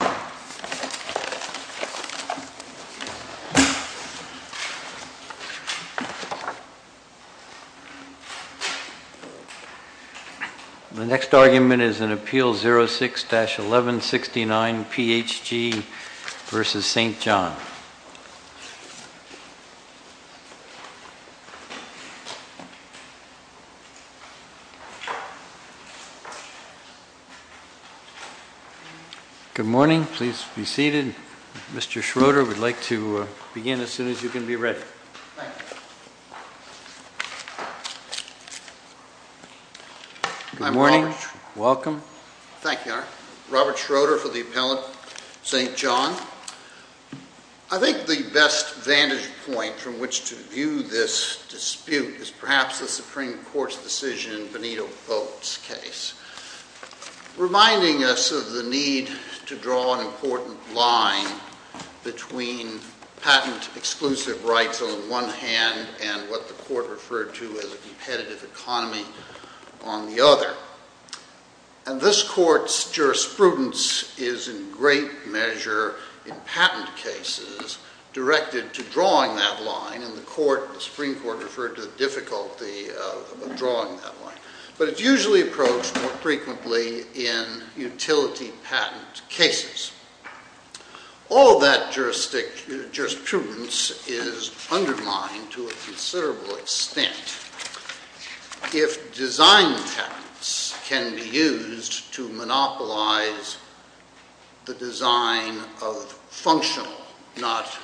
The next argument is an Appeal 06-1169, PHG v. St John. Good morning. Please be seated. Mr. Schroeder, we'd like to begin as soon as you can be ready. Good morning. Welcome. Thank you. Robert Schroeder for the Appellant, St. John. I think the best vantage point from which to view this dispute is perhaps the Supreme Court's decision in Benito Vogt's case. Reminding us of the need to draw an important line between patent exclusive rights on one hand and what the Court referred to as a competitive economy on the other. And this Court's jurisprudence is in great measure in patent cases directed to drawing that line, and the Supreme Court referred to the difficulty of drawing that line. But it's usually approached more frequently in utility patent cases. All of that jurisprudence is undermined to a considerable extent if design patents can be used to monopolize the design of functional, not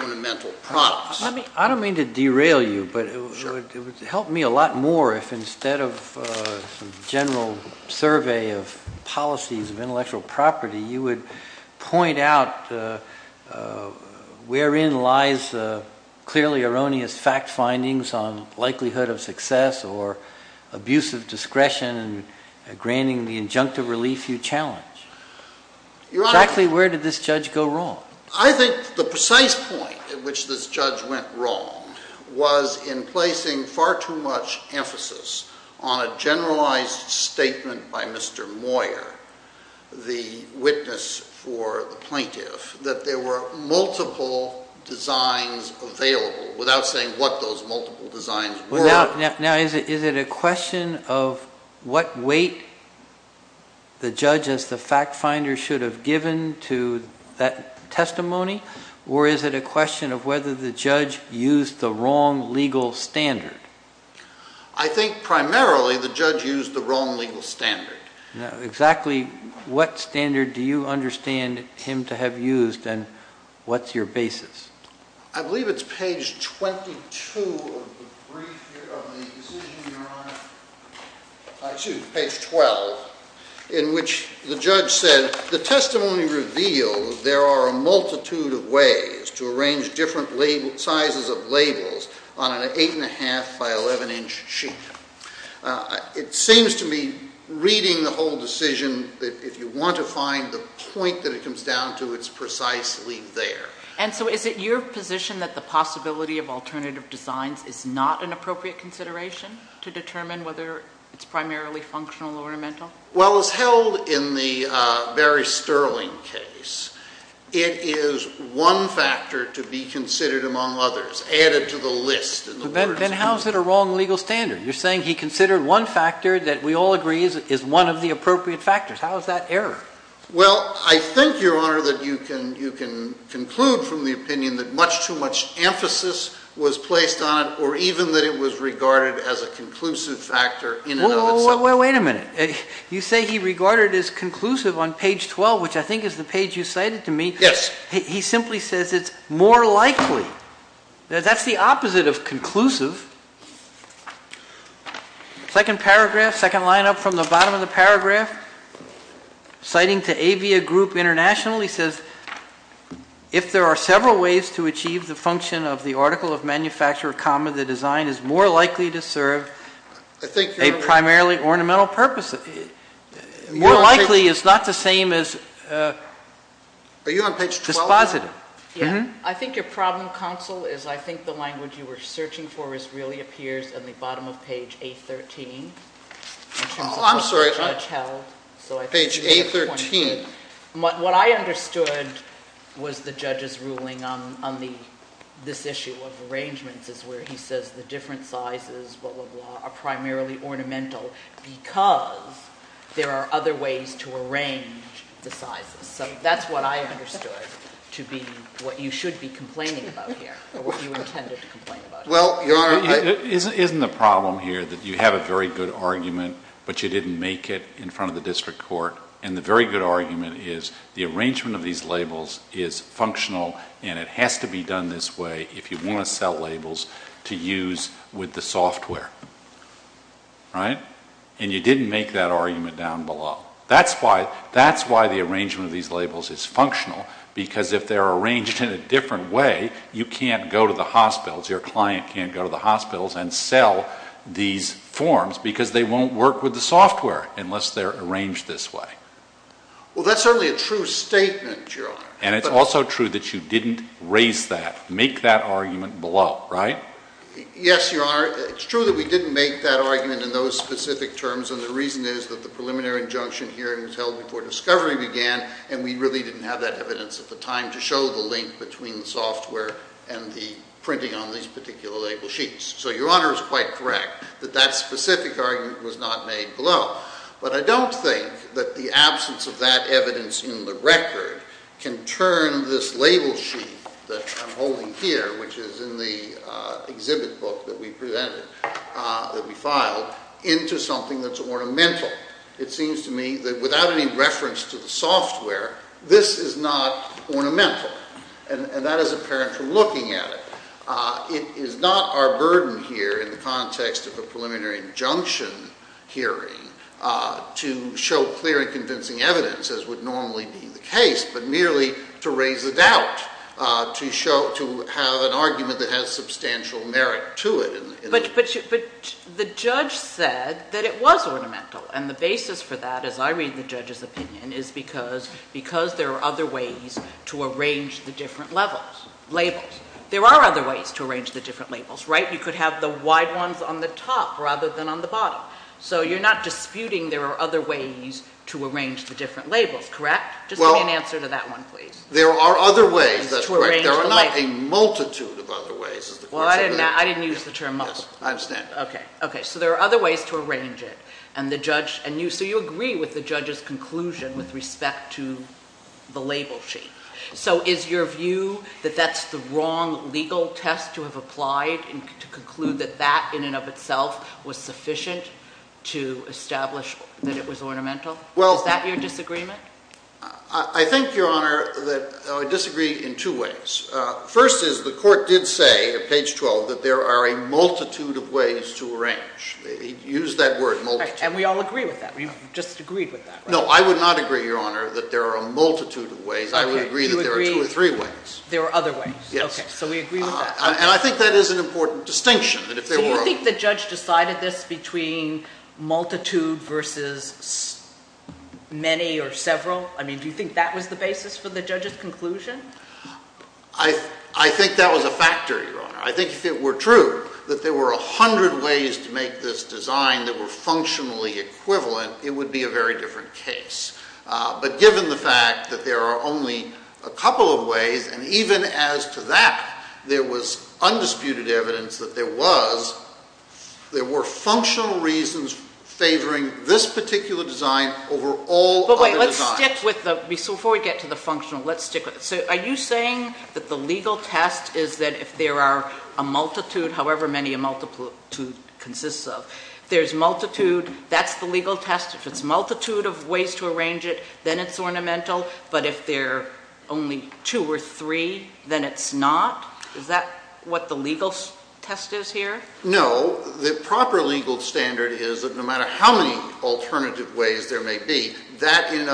ornamental, products. I don't mean to derail you, but it would help me a lot more if instead of a general survey of policies of intellectual property, you would point out wherein lies clearly erroneous fact findings on likelihood of success or abuse of discretion and granting the injunctive relief you challenge. Exactly where did this judge go wrong? I think the precise point at which this judge went wrong was in placing far too much emphasis on a generalized statement by Mr. Moyer, the witness for the plaintiff, that there were multiple designs available, without saying what those multiple designs were. Now is it a question of what weight the judge as the fact finder should have given to that testimony, or is it a question of whether the judge used the wrong legal standard? I think primarily the judge used the wrong legal standard. Exactly what standard do you understand him to have used, and what's your basis? I believe it's page 22 of the decision your Honor, excuse me, page 12, in which the judge said, the testimony revealed there are a multitude of ways to arrange different sizes of labels on an 8 1⁄2 by 11 inch sheet. It seems to me, reading the whole decision, that if you want to find the point that it comes down to, it's precisely there. And so is it your position that the possibility of alternative designs is not an appropriate consideration to determine whether it's primarily functional or mental? Well, as held in the Barry Sterling case, it is one factor to be considered among others, added to the list. Then how is it a wrong legal standard? You're saying he considered one factor that we all agree is one of the appropriate factors. How is that error? Well, I think your Honor that you can conclude from the opinion that much too much emphasis was placed on it, or even that it was regarded as a conclusive factor in and of itself. Wait a minute. You say he regarded it as conclusive on page 12, which I think is the page you cited to me. Yes. He simply says it's more likely. That's the opposite of conclusive. Second paragraph, second line up from the bottom of the paragraph, citing to Avia Group International, he says, if there are several ways to achieve the function of the article of manufacturer comma, the design is more likely to serve a primarily ornamental purpose. More likely is not the same as, uh, are you on page 12? Dispositive. I think your problem counsel is, I think the language you were searching for is really appears on the bottom of page eight, 13. I'm sorry. So I page eight, 13. What I understood was the judge's ruling on the, this issue of arrangements is where he says the different sizes, blah, blah, blah, are primarily ornamental because there are other ways to arrange the sizes. So that's what I understood to be what you should be complaining about here or what you are. Isn't the problem here that you have a very good argument, but you didn't make it in front of the district court. And the very good argument is the arrangement of these labels is functional and it has to be done this way if you want to sell labels to use with the software, right? And you didn't make that argument down below. That's why, that's why the arrangement of these labels is functional because if they're arranged in a different way, you can't go to the hospitals, your client can't go to the hospitals and sell these forms because they won't work with the software unless they're arranged this way. Well, that's certainly a true statement, Your Honor. And it's also true that you didn't raise that, make that argument below, right? Yes, Your Honor. It's true that we didn't make that argument in those specific terms and the reason is that the preliminary injunction hearing was held before discovery began and we really didn't have that evidence at the time to show the link between the software and the printing on these particular label sheets. So Your Honor is quite correct that that specific argument was not made below. But I don't think that the absence of that evidence in the record can turn this label sheet that I'm holding here, which is in the exhibit book that we presented, that we filed, into something that's ornamental. It seems to me that without any reference to the software, this is not ornamental. And that is apparent from looking at it. It is not our burden here in the context of a preliminary injunction hearing to show clear and convincing evidence as would normally be the case, but merely to raise a doubt, to have an argument that has substantial merit to it. But the judge said that it was ornamental and the basis for that, as I read the judge's opinion, is because there are other ways to arrange the different labels. There are other ways to arrange the different labels, right? You could have the wide ones on the top rather than on the bottom. So you're not disputing there are other ways to arrange the different labels, correct? Just give me an answer to that one, please. There are other ways, that's correct. There are not a multitude of other ways. Well, I didn't use the term multitude. I understand. Okay. So there are other ways to arrange it. So you agree with the judge's conclusion with respect to the label sheet. So is your view that that's the wrong legal test to have applied to conclude that that in and of itself was sufficient to establish that it was ornamental? Is that your disagreement? I think, Your Honor, I disagree in two ways. First is the court did say at page 12 that there are a multitude of ways to arrange. Use that word, multitude. And we all agree with that. We've just agreed with that, right? No, I would not agree, Your Honor, that there are a multitude of ways. I would agree that there are two or three ways. There are other ways. Yes. Okay. So we agree with that. And I think that is an important distinction that if there were a... So you think the judge decided this between multitude versus many or several? I mean, do you think that was the basis for the judge's conclusion? I think that was a factor, Your Honor. I think if it were true that there were a hundred ways to make this design that were functionally equivalent, it would be a very different case. But given the fact that there are only a couple of ways, and even as to that, there was undisputed evidence that there was, there were functional reasons favoring this particular design over all other designs. Let's stick with the... So before we get to the functional, let's stick with it. So are you saying that the legal test is that if there are a multitude, however many a multitude consists of, there's multitude, that's the legal test? If it's a multitude of ways to arrange it, then it's ornamental, but if there are only two or three, then it's not? Is that what the legal test is here? No. The proper legal standard is that no one by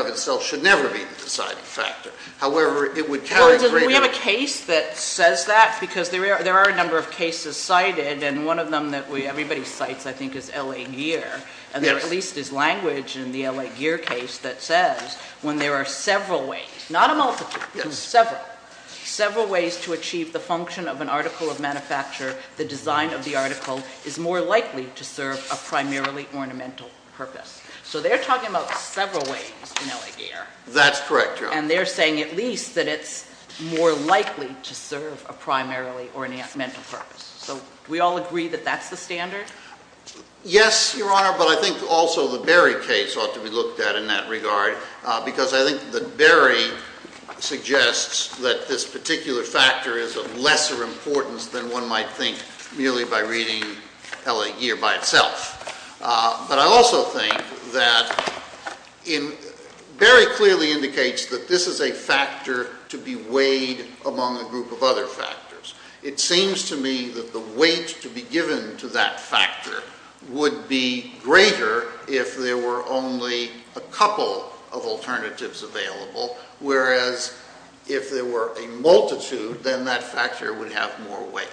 themselves should never be the deciding factor. However, it would carry... Well, we have a case that says that because there are a number of cases cited, and one of them that everybody cites, I think, is L.A. Gear, and there at least is language in the L.A. Gear case that says when there are several ways, not a multitude, but several, several ways to achieve the function of an article of manufacture, the design of the article is more likely to serve a primarily ornamental purpose. So they're talking about several ways in L.A. Gear. That's correct, Your Honor. And they're saying at least that it's more likely to serve a primarily ornamental purpose. So do we all agree that that's the standard? Yes, Your Honor, but I think also the Berry case ought to be looked at in that regard, because I think that Berry suggests that this particular factor is of lesser importance than one might think merely by reading L.A. Gear. And I also think that Berry clearly indicates that this is a factor to be weighed among a group of other factors. It seems to me that the weight to be given to that factor would be greater if there were only a couple of alternatives available, whereas if there were a multitude, then that factor would have more weight.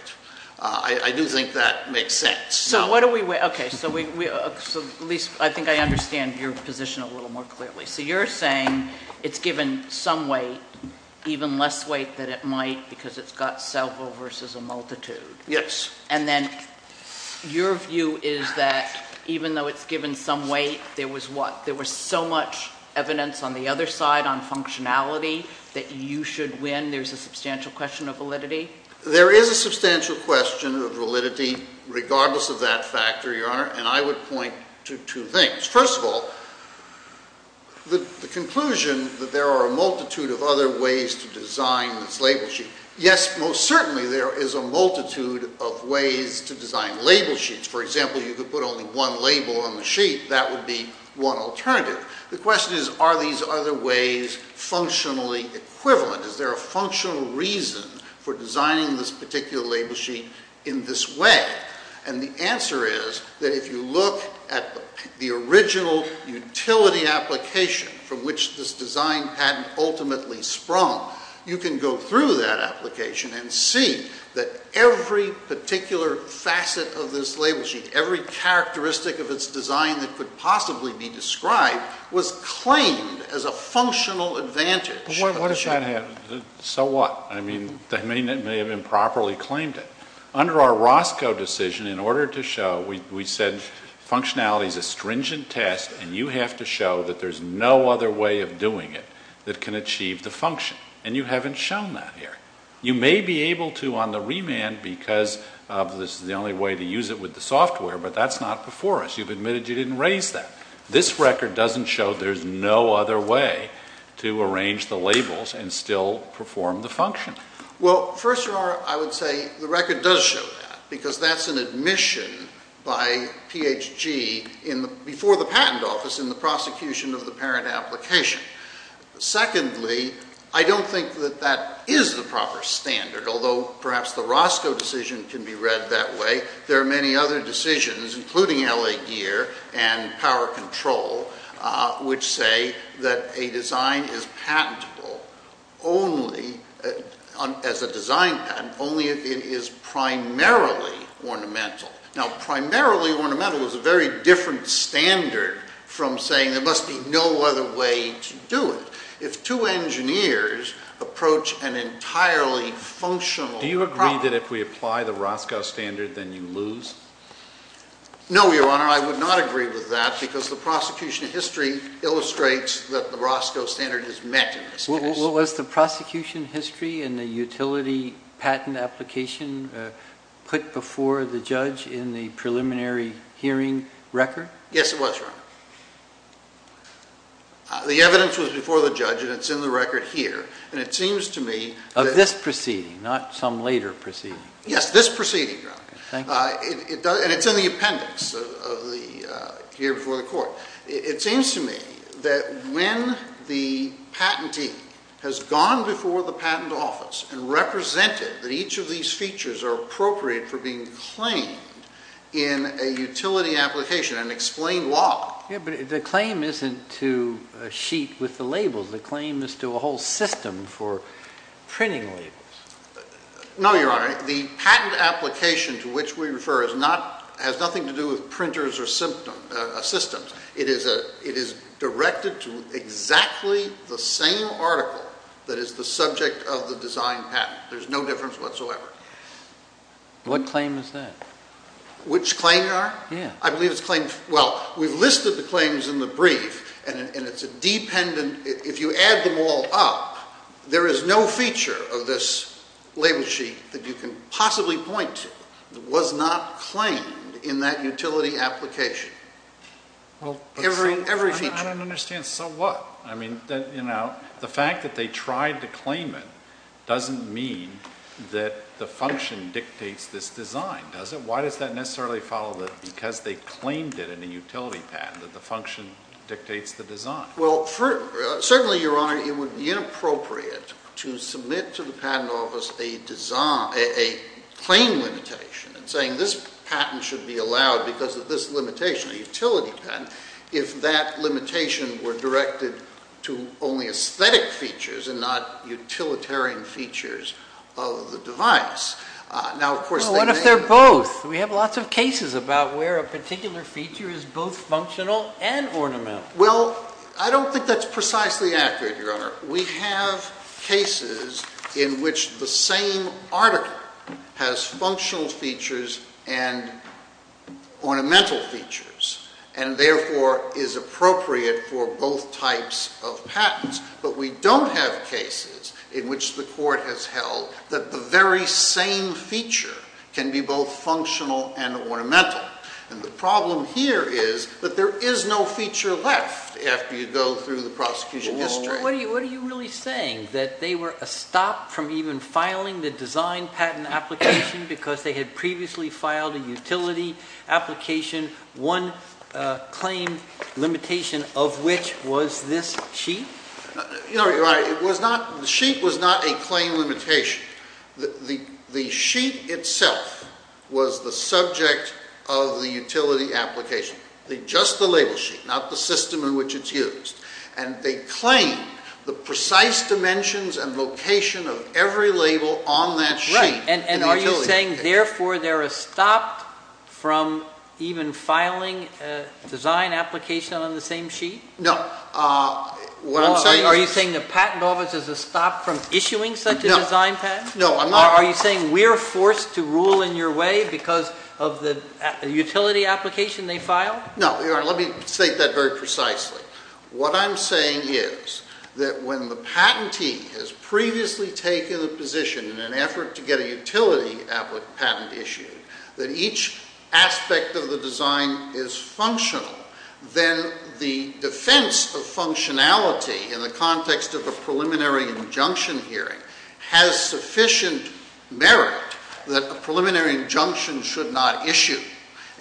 I do think that makes sense. So what do we weigh? Okay, so at least I think I understand your position a little more clearly. So you're saying it's given some weight, even less weight than it might because it's got several versus a multitude. Yes. And then your view is that even though it's given some weight, there was what? There was so much evidence on the other side on functionality that you should win. There's a substantial weight, regardless of that factor, Your Honor, and I would point to two things. First of all, the conclusion that there are a multitude of other ways to design this label sheet, yes, most certainly there is a multitude of ways to design label sheets. For example, you could put only one label on the sheet. That would be one alternative. The question is, are these other ways functionally equivalent? Is there a functional reason for designing this particular label sheet in this way? And the answer is that if you look at the original utility application from which this design patent ultimately sprung, you can go through that application and see that every particular facet of this label sheet, every characteristic of its design that could possibly be described, was claimed as a functional advantage. But what if that happened? So what? I mean, they may have improperly claimed it. Under our Roscoe decision, in order to show, we said functionality is a stringent test, and you have to show that there's no other way of doing it that can achieve the function. And you haven't shown that here. You may be able to on the remand because this is the only way to use it with the software, but that's not before us. You've admitted you didn't raise that. This record doesn't show there's no other way to arrange the labels and still perform the function. Well, first of all, I would say the record does show that because that's an admission by PHG before the patent office in the prosecution of the parent application. Secondly, I don't think that that is the proper standard, although perhaps the Roscoe decision can be read that way. There are many other decisions, including L.A. Gear and Power Control, which say that a design is patentable only, as a design patent, only if it is primarily ornamental. Now, primarily ornamental is a very different standard from saying there must be no other way to do it. If two engineers approach an entirely functional problem... No, Your Honor. I would not agree with that because the prosecution history illustrates that the Roscoe standard is met in this case. Well, was the prosecution history in the utility patent application put before the judge in the preliminary hearing record? Yes, it was, Your Honor. The evidence was before the judge, and it's in the record here. And it seems to me... Of this proceeding, not some later proceeding. Yes, this proceeding, Your Honor. And it's in the appendix here before the court. It seems to me that when the patentee has gone before the patent office and represented that each of these features are appropriate for being claimed in a utility application and explained why... Yeah, but the claim isn't to a sheet with the labels. The claim is to a whole system for printing labels. No, Your Honor. The patent application to which we refer has nothing to do with printers or systems. It is directed to exactly the same article that is the subject of the design patent. There's no difference whatsoever. What claim is that? Which claim, Your Honor? Yeah. I believe it's claimed... Well, we've listed the claims in the brief, and it's a dependent... If you add them all up, there is no feature of this label sheet that you can possibly point to that was not claimed in that utility application. Every feature. I don't understand. So what? I mean, the fact that they tried to claim it doesn't mean that the function dictates this design, does it? Why does that necessarily follow that because they claimed it in a utility patent, that the function dictates the design? Well, certainly, Your Honor, it would be inappropriate to submit to the patent office a design... a claim limitation, saying this patent should be allowed because of this limitation, a utility patent, if that limitation were directed to only aesthetic features and not utilitarian features of the device. Now, of course, they may... Well, what if they're both? We have lots of cases about where a particular feature is both functional and ornamental. Well, I don't think that's precisely accurate, Your Honor. We have cases in which the same article has functional features and ornamental features, and therefore is appropriate for both types of patents. But we don't have cases in which the Court has held that the very same feature can be both functional and ornamental. And the problem here is that there is no feature left after you go through the prosecution history. Well, what are you really saying, that they were stopped from even filing the design patent application because they had previously filed a utility application, one claim limitation of which was this sheet? You know, Your Honor, it was not... the sheet was not a claim limitation. The sheet itself was the subject of the utility application, just the label sheet, not the system in which it's used. And they claimed the precise dimensions and location of every label on that sheet in the utility application. And are you saying, therefore, they were stopped from even filing a design application on the same sheet? No. What I'm saying is... Are you saying the Patent Office is stopped from issuing such a design patent? No, I'm not... Are you saying we're forced to rule in your way because of the utility application they filed? No. Your Honor, let me state that very precisely. What I'm saying is that when the patentee has previously taken a position in an effort to get a utility patent issued, that each aspect of the design is functional, then the defense of functionality in the context of a preliminary injunction hearing has sufficient merit that a preliminary injunction should not issue.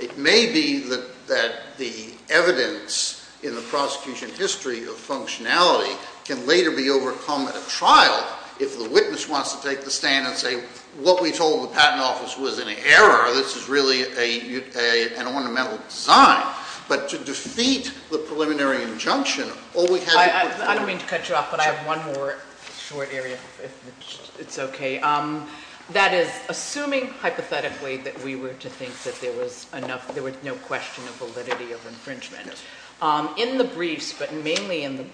It may be that the evidence in the prosecution history of functionality can later be overcome at a trial if the witness wants to take the stand and say, what we told the Patent Office was an error, this is really an ornamental design. But to defeat the preliminary injunction, all we have... I don't mean to cut you off, but I have one more short area, if it's okay. That is, assuming hypothetically that we were to think that there was no question of validity of infringement, in the briefs, but mainly in the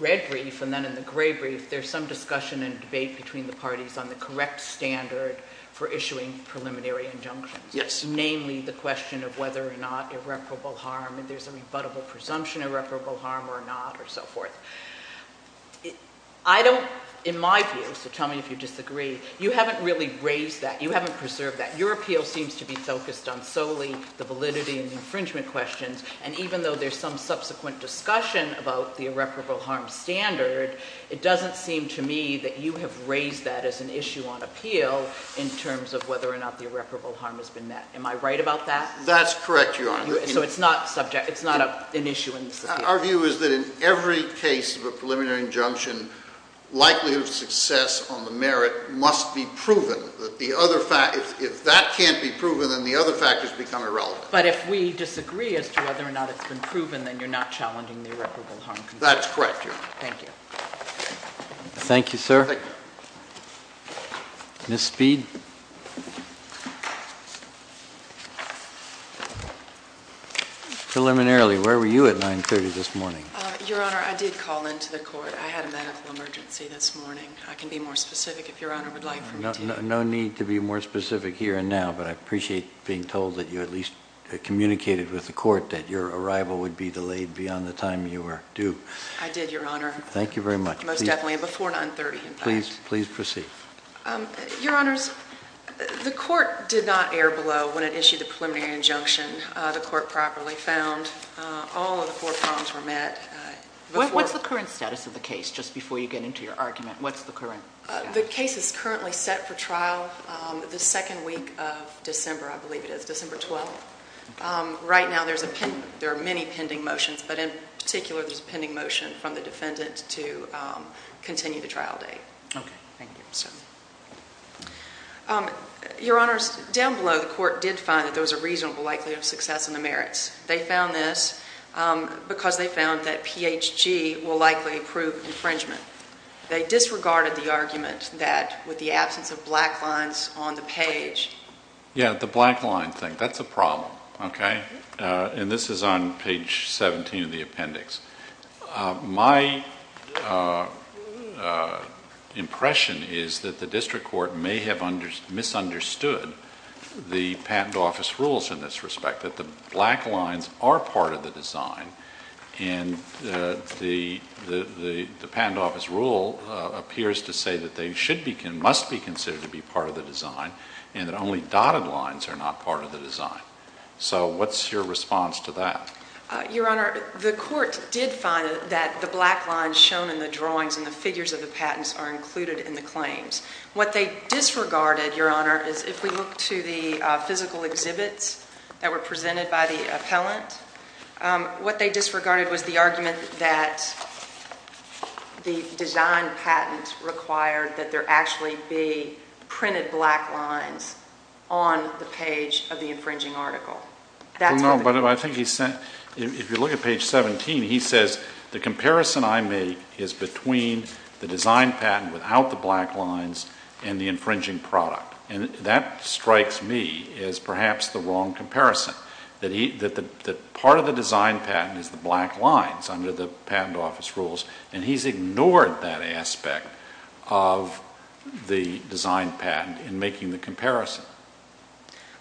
red brief and then in the gray brief, there's some discussion and debate between the parties on the correct standard for issuing preliminary injunctions. Namely, the question of whether or not irreparable harm, if there's a rebuttable presumption of irreparable harm or not, or so forth. I don't, in my view, so tell me if you disagree, you haven't really raised that, you haven't preserved that. Your appeal seems to be focused on solely the validity and infringement questions, and even though there's some subsequent discussion about the irreparable harm standard, it doesn't seem to me that you have raised that as an issue on appeal in terms of whether or not the irreparable harm has been met. Am I right about that? That's correct, Your Honor. So it's not subject, it's not an issue in this case? Our view is that in every case of a preliminary injunction, likelihood of success on the merit must be proven. If that can't be proven, then the other factors become irrelevant. But if we disagree as to whether or not it's been proven, then you're not challenging the irreparable harm? That's correct, Your Honor. Thank you. Thank you, sir. Thank you. Ms. Speed. Preliminarily, where were you at 930 this morning? Your Honor, I did call into the court. I had a medical emergency this morning. I can be more specific if Your Honor would like for me to. No need to be more specific here and now, but I appreciate being told that you at least communicated with the court that your arrival would be delayed beyond the time you were due. I did, Your Honor. Thank you very much. Most definitely, before 930, in fact. Please proceed. Your Honors, the court did not err below when it issued the preliminary injunction. The court properly found all of the court problems were met before. What's the current status of the case, just before you get into your argument? What's the current status? The case is currently set for trial the second week of December, I believe it is, December 12th. Right now, there are many pending motions, but in particular, there's a pending motion from the defendant to continue the trial date. Okay. Thank you. Your Honors, down below, the court did find that there was a reasonable likelihood of success in the merits. They found this because they found that PHG will likely approve infringement. They disregarded the argument that, with the absence of black lines on the page. Yeah, the black line thing. That's a problem, okay? And this is on page 17 of the appendix. My impression is that the district court may have misunderstood the patent office rules in this respect. That the black lines are part of the design, and the patent office rule appears to say that they must be considered to be part of the design, and that only dotted lines are not part of the design. So, what's your response to that? Your Honor, the court did find that the black lines shown in the drawings and the figures of the patents are included in the claims. What they disregarded, Your Honor, is if we look to the physical exhibits that were presented by the appellant, what they disregarded was the argument that the design patent required that there actually be printed black lines on the page of the infringing article. That's what they did. No, but I think he said, if you look at page 17, he says, the comparison I make is between the design patent without the black lines and the infringing product. And that strikes me as perhaps the wrong comparison. That part of the design patent is the black lines under the patent office rules, and he's ignored that aspect of the design patent in making the comparison.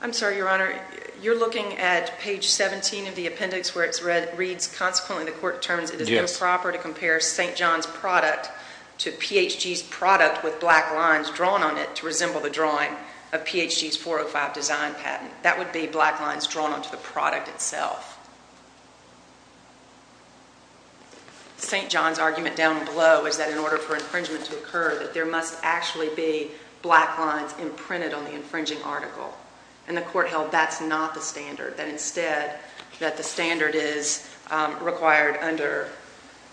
I'm sorry, Your Honor, you're looking at page 17 of the appendix where it's read, reads, consequently the court determines it is improper to compare St. John's product to PHG's product with black lines drawn on it to resemble the drawing of PHG's 405 design patent. That would be black lines drawn onto the product itself. St. John's argument down below is that in order for infringement to occur, that there must actually be black lines imprinted on the infringing article. And the court held that's not the standard, that instead, that the standard is required under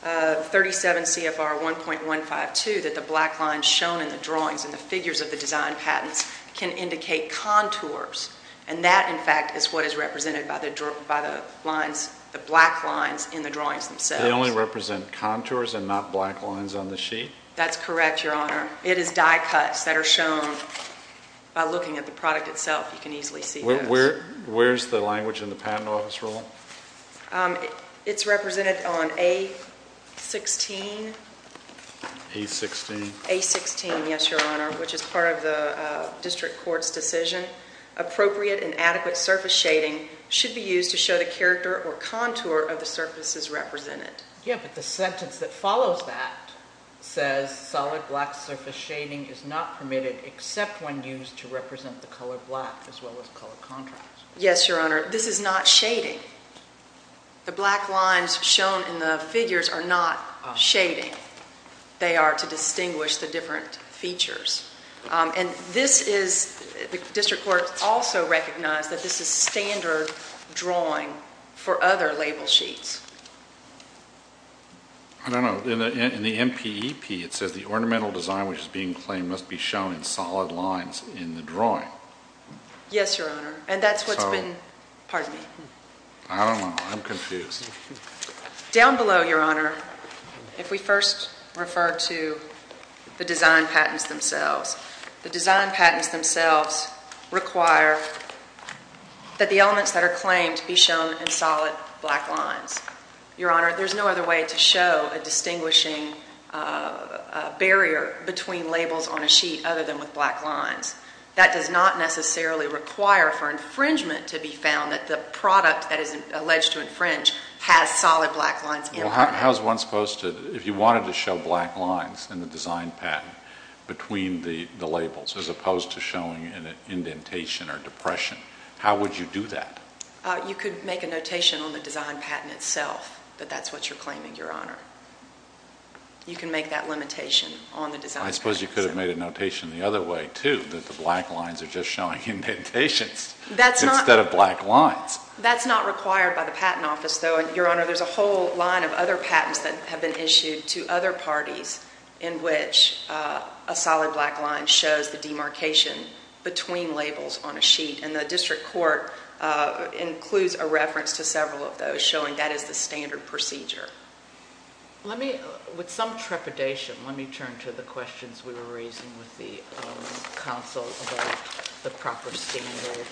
37 CFR 1.152 that the black lines shown in the drawings and the figures of the design patents can indicate contours. And that, in fact, is what is represented by the lines, the black lines in the drawings themselves. They only represent contours and not black lines on the sheet? That's correct, Your Honor. It is die cuts that are shown by looking at the product itself. You can easily see those. Where's the language in the patent office rule? It's represented on A16. A16. A16, yes, Your Honor, which is part of the district court's decision. Appropriate and adequate surface shading should be used to show the character or contour of the surfaces represented. Yeah, but the sentence that follows that says solid black surface shading is not permitted except when used to represent the color black as well as color contrast. Yes, Your Honor. This is not shading. The black lines shown in the figures are not shading. They are to distinguish the different features. And this is, the district court also recognized that this is standard drawing for other label sheets. I don't know. In the MPEP, it says the ornamental design which is being claimed must be shown in solid lines in the drawing. Yes, Your Honor. And that's what's been So. Pardon me. I don't know. I'm confused. Down below, Your Honor, if we first refer to the design patents themselves, the design patents themselves require that the elements that are claimed be shown in solid black lines. Your Honor, there's no other way to show a distinguishing barrier between labels on a sheet other than with black lines. That does not necessarily require for infringement to be found that the product that is alleged to infringe has solid black lines in it. Well, how is one supposed to, if you wanted to show black lines in the design patent between the labels as opposed to showing an indentation or depression, how would you do that? You could make a notation on the design patent itself that that's what you're claiming, Your Honor. You can make that limitation on the design patent itself. I suppose you could have made a notation the other way, too, that the black lines are just showing indentations instead of black lines. That's not required by the Patent Office, though. Your Honor, there's a whole line of other patents that have been issued to other parties in which a solid black line shows the demarcation between labels on a sheet, and the district court includes a reference to several of those showing that is the standard procedure. Let me, with some trepidation, let me turn to the questions we were raising with the counsel about the proper standard.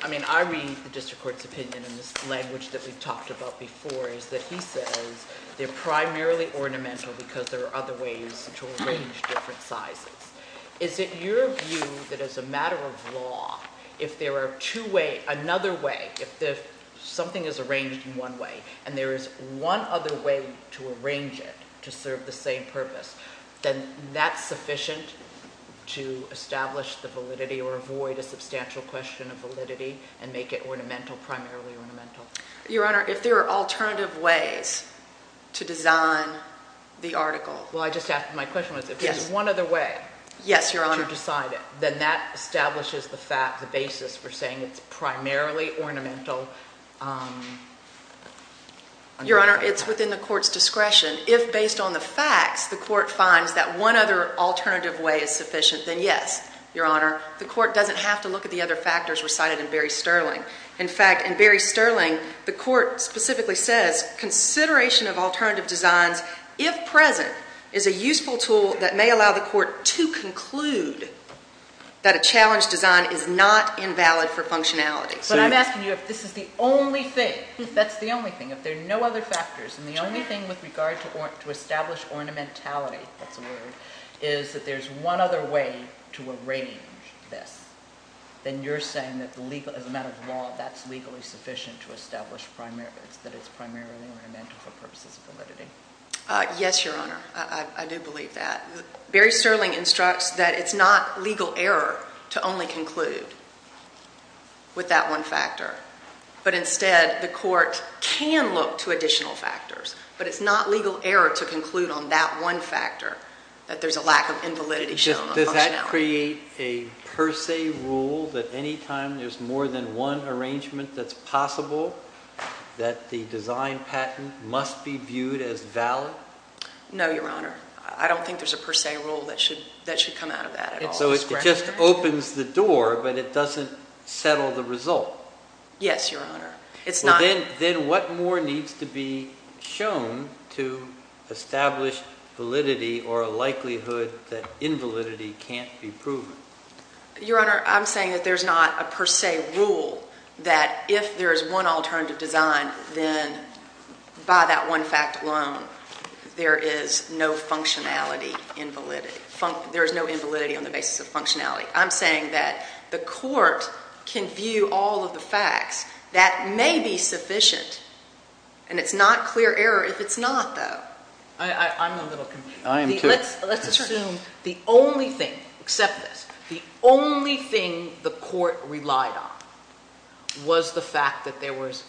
I mean, I read the district court's opinion in this case, which we've talked about before, is that he says they're primarily ornamental because there are other ways to arrange different sizes. Is it your view that, as a matter of law, if there are two ways, another way, if something is arranged in one way and there is one other way to arrange it to serve the same purpose, then that's sufficient to establish the validity or avoid a substantial question of validity and make it ornamental, primarily ornamental? Your Honor, if there are alternative ways to design the article. Well, I just asked, my question was, if there's one other way to decide it, then that establishes the fact, the basis for saying it's primarily ornamental. Your Honor, it's within the court's discretion. If, based on the facts, the court finds that one other alternative way is sufficient, then yes, Your Honor. The court doesn't have to other factors were cited in Berry-Sterling. In fact, in Berry-Sterling, the court specifically says, consideration of alternative designs, if present, is a useful tool that may allow the court to conclude that a challenge design is not invalid for functionality. But I'm asking you if this is the only thing, if that's the only thing, if there are no other factors and the only thing with regard to establish ornamentality, that's a word, is that there's one other way to arrange this, then you're saying that as a matter of law, that's legally sufficient to establish that it's primarily ornamental for purposes of validity? Yes, Your Honor. I do believe that. Berry-Sterling instructs that it's not legal error to only conclude with that one factor. But instead, the court can look to additional factors. But it's not legal error to conclude on that one factor, that there's a lack of invalidity shown on functionality. Does that create a per se rule that any time there's more than one arrangement that's possible, that the design patent must be viewed as valid? No, Your Honor. I don't think there's a per se rule that should come out of that at all. So it just opens the door, but it doesn't settle the result? Yes, Your Honor. Well, then what more needs to be shown to establish validity or a likelihood that invalidity can't be proven? Your Honor, I'm saying that there's not a per se rule that if there's one alternative design, then by that one fact alone, there is no functionality, there's no invalidity on the facts, that may be sufficient. And it's not clear error if it's not, though. I'm a little confused. I am, too. Let's assume the only thing, except this, the only thing the court relied on was the fact that there was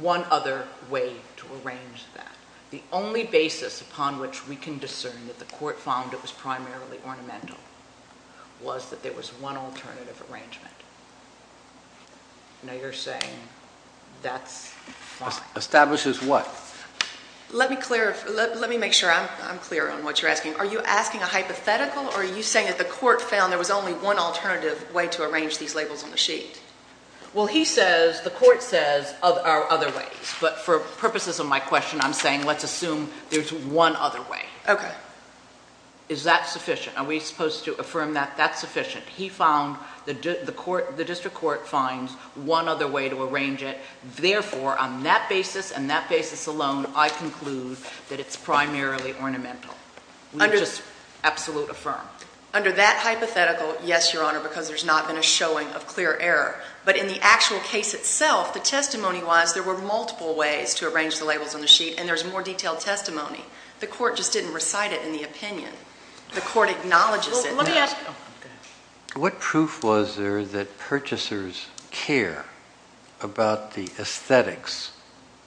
one other way to arrange that. The only basis upon which we can discern that the court found it was primarily ornamental was that there was one alternative arrangement. Now you're saying that's fine. Establishes what? Let me clear, let me make sure I'm clear on what you're asking. Are you asking a hypothetical or are you saying that the court found there was only one alternative way to arrange these labels on the sheet? Well, he says, the court says there are other ways, but for purposes of my question, I'm saying let's assume there's one other way. Okay. Is that sufficient? Are we supposed to affirm that that's sufficient? He found the district court finds one other way to arrange it. Therefore, on that basis and that basis alone, I conclude that it's primarily ornamental. We just absolute affirm. Under that hypothetical, yes, Your Honor, because there's not been a showing of clear error. But in the actual case itself, the testimony was there were multiple ways to arrange the labels on the sheet and there's more detailed testimony. The court just didn't recite it in the opinion. The court acknowledges it. What proof was there that purchasers care about the aesthetics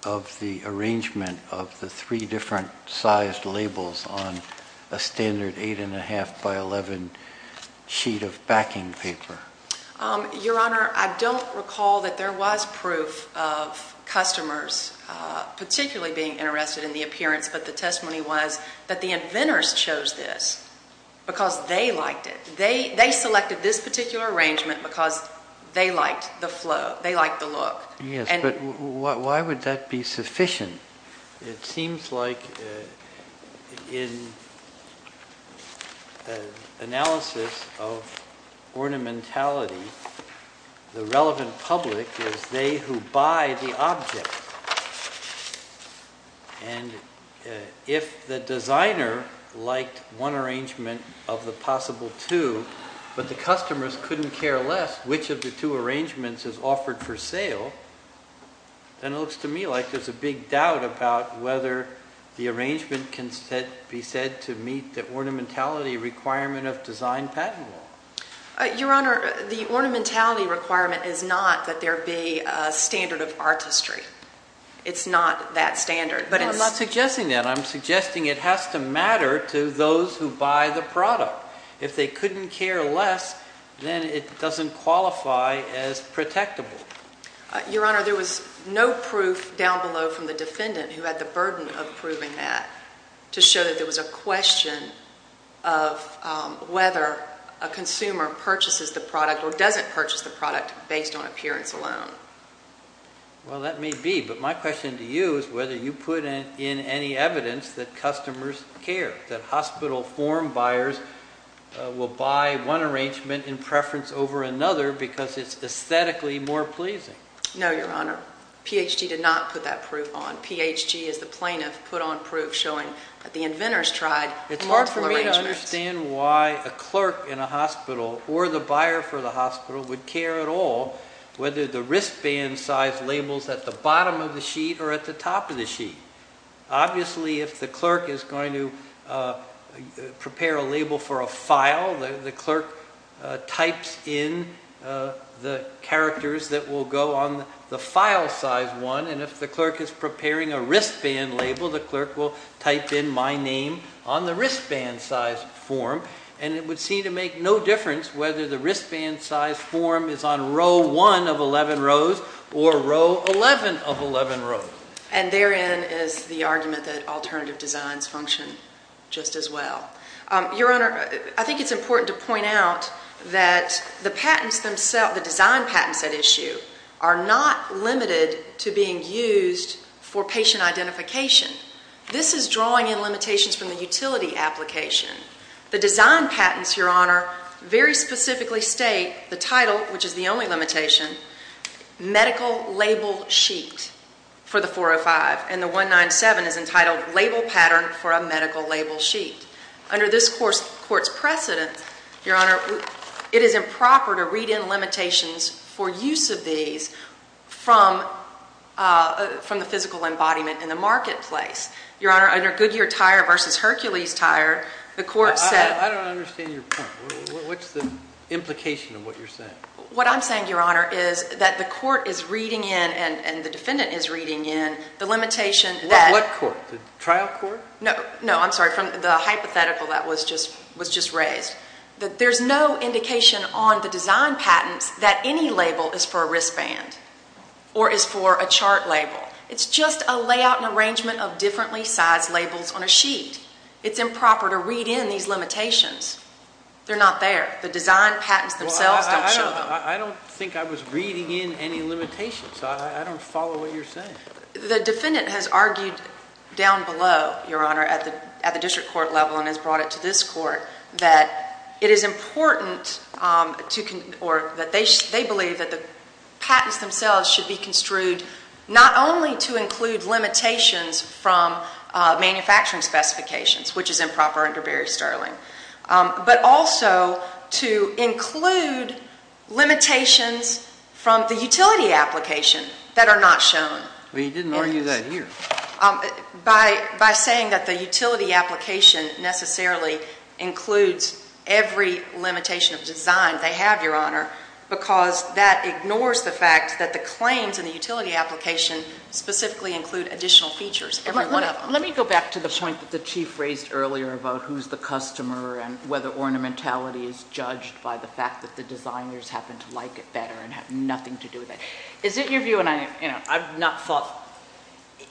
of the arrangement of the three different sized labels on a standard eight and a half by 11 sheet of backing paper? Your Honor, I don't recall that there was proof of customers particularly being interested in the appearance, but the testimony was that the inventors chose this because they liked it. They selected this particular arrangement because they liked the flow. They liked the look. Yes, but why would that be sufficient? It seems like in analysis of ornamentality, the relevant public is they who buy the arrangement of the possible two, but the customers couldn't care less which of the two arrangements is offered for sale. And it looks to me like there's a big doubt about whether the arrangement can be said to meet the ornamentality requirement of design patent law. Your Honor, the ornamentality requirement is not that there be a standard of artistry. It's not that standard. No, I'm not suggesting that. I'm suggesting it has to matter to those who buy the product. If they couldn't care less, then it doesn't qualify as protectable. Your Honor, there was no proof down below from the defendant who had the burden of proving that to show that there was a question of whether a consumer purchases the product or doesn't purchase the product based on appearance alone. Well, that may be, but my question to you is whether you put in any evidence that customers care, that hospital form buyers will buy one arrangement in preference over another because it's aesthetically more pleasing. No, Your Honor. PHG did not put that proof on. PHG is the plaintiff put on proof showing that the inventors tried multiple arrangements. It's hard for me to understand why a clerk in a hospital or the buyer for the wristband size labels at the bottom of the sheet or at the top of the sheet. Obviously, if the clerk is going to prepare a label for a file, the clerk types in the characters that will go on the file size one. If the clerk is preparing a wristband label, the clerk will type in my name on the wristband size form. It would seem to make no difference whether the wristband size form is on row one of 11 rows or row 11 of 11 rows. And therein is the argument that alternative designs function just as well. Your Honor, I think it's important to point out that the patents themselves, the design patents at issue, are not limited to being used for patient identification. This is drawing in limitations from the utility application. The design patents, Your Honor, very specifically state the title, which is the only limitation, Medical Label Sheet for the 405. And the 197 is entitled Label Pattern for a Medical Label Sheet. Under this court's precedent, Your Honor, it is improper to read in limitations for use of these from the physical embodiment in the marketplace. Your Honor, under Goodyear Tire versus Hercules Tire, the court said- I don't understand your point. What's the implication of what you're saying? What I'm saying, Your Honor, is that the court is reading in and the defendant is reading in the limitation that- What court? The trial court? No. I'm sorry. From the hypothetical that was just raised. There's no indication on the design patents that any label is for a wristband or is for a chart label. It's just a layout and arrangement of differently sized labels on a sheet. It's improper to read in these limitations. They're not there. The design patents themselves don't show them. I don't think I was reading in any limitations. I don't follow what you're saying. The defendant has argued down below, Your Honor, at the district court level and has brought it to this court that it is important that they believe that the patents themselves should be construed not only to include limitations from manufacturing specifications, which is improper under Barry Sterling, but also to include limitations from the utility application that are not shown. But you didn't argue that here. By saying that the utility application necessarily includes every limitation of design they have, Your Honor, because that ignores the fact that the claims in the utility application specifically include additional features, every one of them. Let me go back to the point that the Chief raised earlier about who's the customer and whether ornamentality is judged by the fact that the designers happen to like it better and have nothing to do with it. Is it your view, and I've not thought,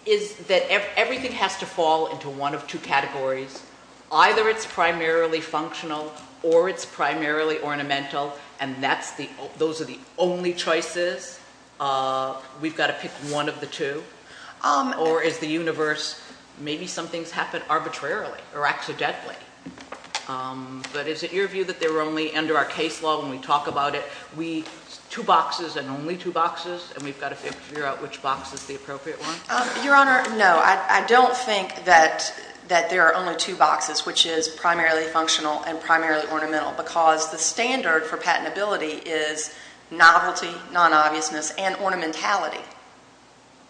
is that everything has to fall into one of two categories? Either it's primarily functional or it's primarily ornamental, and those are the only choices. We've got to pick one of the two. Or is the universe, maybe some things happen arbitrarily or accidentally, but is it your view that they're only under our case law when we talk about it, two boxes and only two boxes, and we've got to figure out which box is the appropriate one? Your Honor, no. I don't think that there are only two boxes, which is primarily functional and primarily ornamental, because the standard for patentability is novelty, non-obviousness, and ornamentality.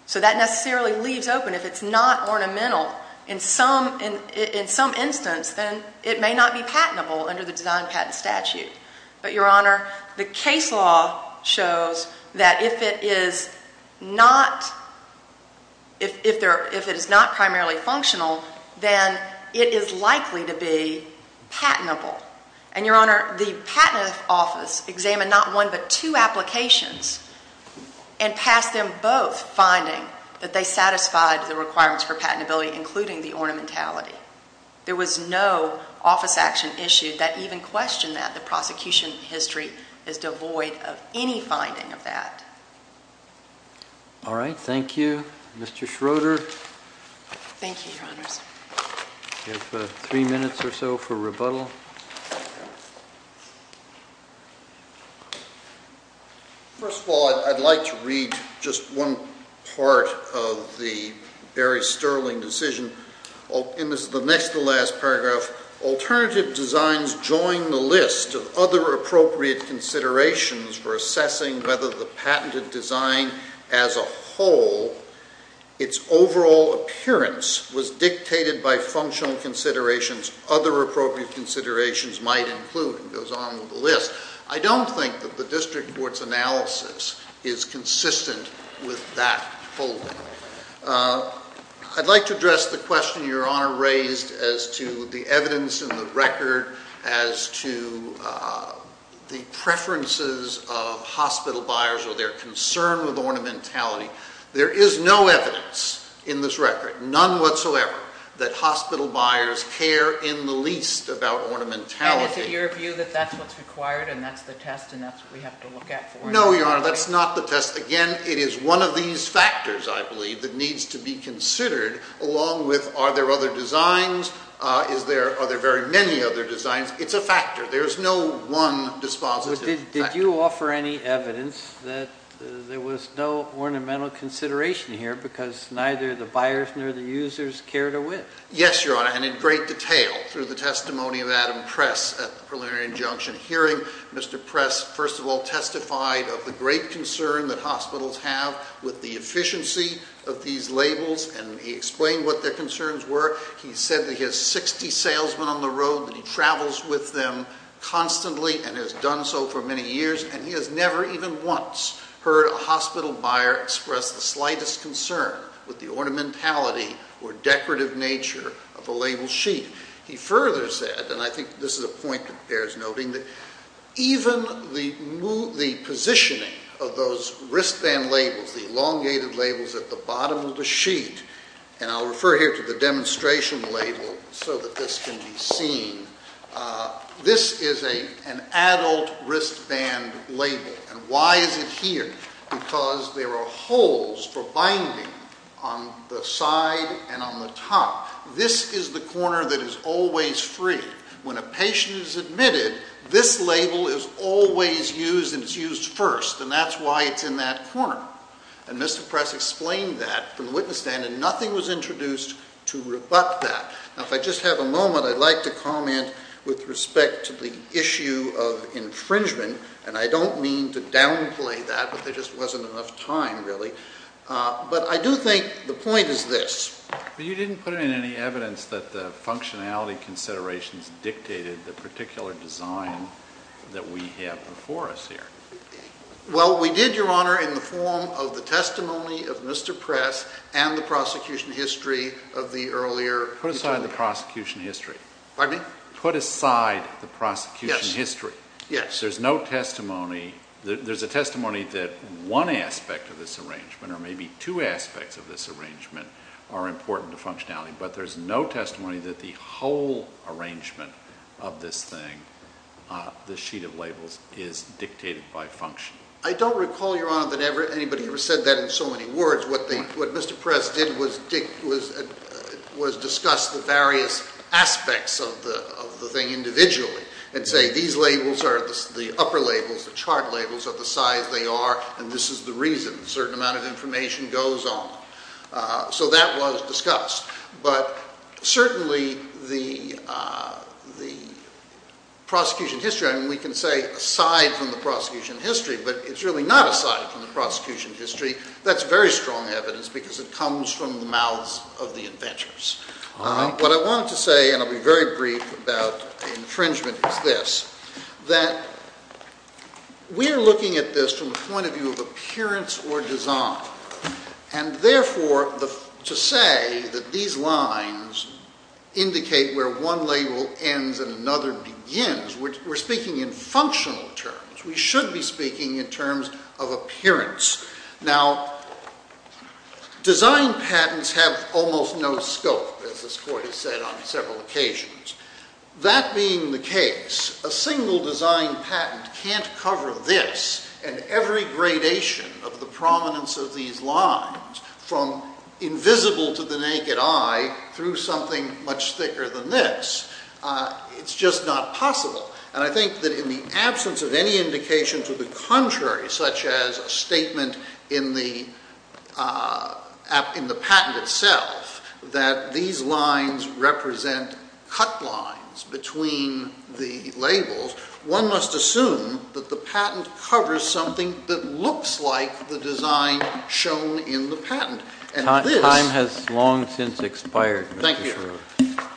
So that necessarily leaves open, if it's not ornamental, in some instance, then it may not be patentable under the Design Patent Statute. But, Your Honor, the case law shows that if it is not primarily functional, then it is likely to be patentable. And, Your Honor, the Patent Office examined not one but two applications and passed them both finding that they satisfied the requirements for patentability, including the ornamentality. There was no office action issued that even questioned that. The prosecution history is devoid of any finding of that. All right. Thank you. Mr. Schroeder. Thank you, Your Honors. You have three minutes or so for rebuttal. First of all, I'd like to read just one part of the Barry Sterling decision in the next to last paragraph. Alternative designs join the list of other appropriate considerations for assessing whether the patented design as a whole, its overall appearance, was dictated by functional considerations, other appropriate considerations might include, and it goes on with the list. I don't think that the district court's analysis is consistent with that holding. I'd like to address the question Your Honor raised as to the evidence in the record as to the preferences of hospital buyers or their concern with ornamentality. There is no evidence in this record, none whatsoever, that hospital buyers care in the least about ornamentality. And is it your view that that's what's required and that's the test and that's what we have to look at for it? No, Your Honor. That's not the test. Again, it is one of these factors, I believe, that needs to be considered along with are there other designs, are there very many other designs. It's a factor. There is no one dispositive factor. Did you offer any evidence that there was no ornamental consideration here because neither the buyers nor the users cared or would? Yes, Your Honor, and in great detail through the testimony of Adam Press at the preliminary injunction hearing, Mr. Press first of all testified of the great concern that hospitals have with the efficiency of these labels and he explained what their concerns were. He said that he has 60 salesmen on the road and he travels with them constantly and has done so for many years and he has never even once heard a hospital buyer express the slightest concern with the ornamentality or decorative nature of a label sheet. He further said, and I think this is a point that bears noting, that even the positioning of those wristband labels, the elongated labels at the bottom of the sheet, and I'll refer here to the demonstration label so that this can be seen, this is an adult wristband label and why is it here? Because there are holes for binding on the side and on the top. This is the corner that is always free. When a patient is admitted, this label is always used and it's used first and that's why it's in that corner. And Mr. Press explained that from the witness stand and nothing was introduced to rebut that. Now if I just have a moment, I'd like to comment with respect to the issue of infringement and I don't mean to downplay that but there just wasn't enough time really. But I do think the point is this. You didn't put in any evidence that the functionality considerations dictated the particular design that we have before us here. Well, we did, Your Honor, in the form of the testimony of Mr. Press and the prosecution history of the earlier. Put aside the prosecution history. Pardon me? Put aside the prosecution history. Yes. There's no testimony. There's a testimony that one aspect of this arrangement or maybe two aspects of this arrangement are important to functionality. But there's no testimony that the whole arrangement of this thing, the sheet of labels, is dictated by function. I don't recall, Your Honor, that anybody ever said that in so many words. What Mr. Press did was discuss the various aspects of the thing individually and say these labels are the upper labels, the chart labels of the size they are and this is the reason a certain amount of information goes on. So that was discussed. But certainly the prosecution history, and we can say aside from the prosecution history, but it's really not aside from the prosecution history. That's very strong evidence because it comes from the mouths of the inventors. What I wanted to say, and I'll be very brief about the infringement is this, that we're looking at this from the point of view of appearance or design. And, therefore, to say that these lines indicate where one label ends and another begins, we're speaking in functional terms. We should be speaking in terms of appearance. Now design patents have almost no scope, as this Court has said on several occasions. That being the case, a single design patent can't cover this and every gradation of the prominence of these lines from invisible to the naked eye through something much thicker than this. It's just not possible. And I think that in the absence of any indication to the contrary, such as a statement in the patent itself, that these lines represent cut lines between the labels, one must assume that the patent covers something that looks like the design shown in the patent. Time has long since expired. Thank you. Thank you.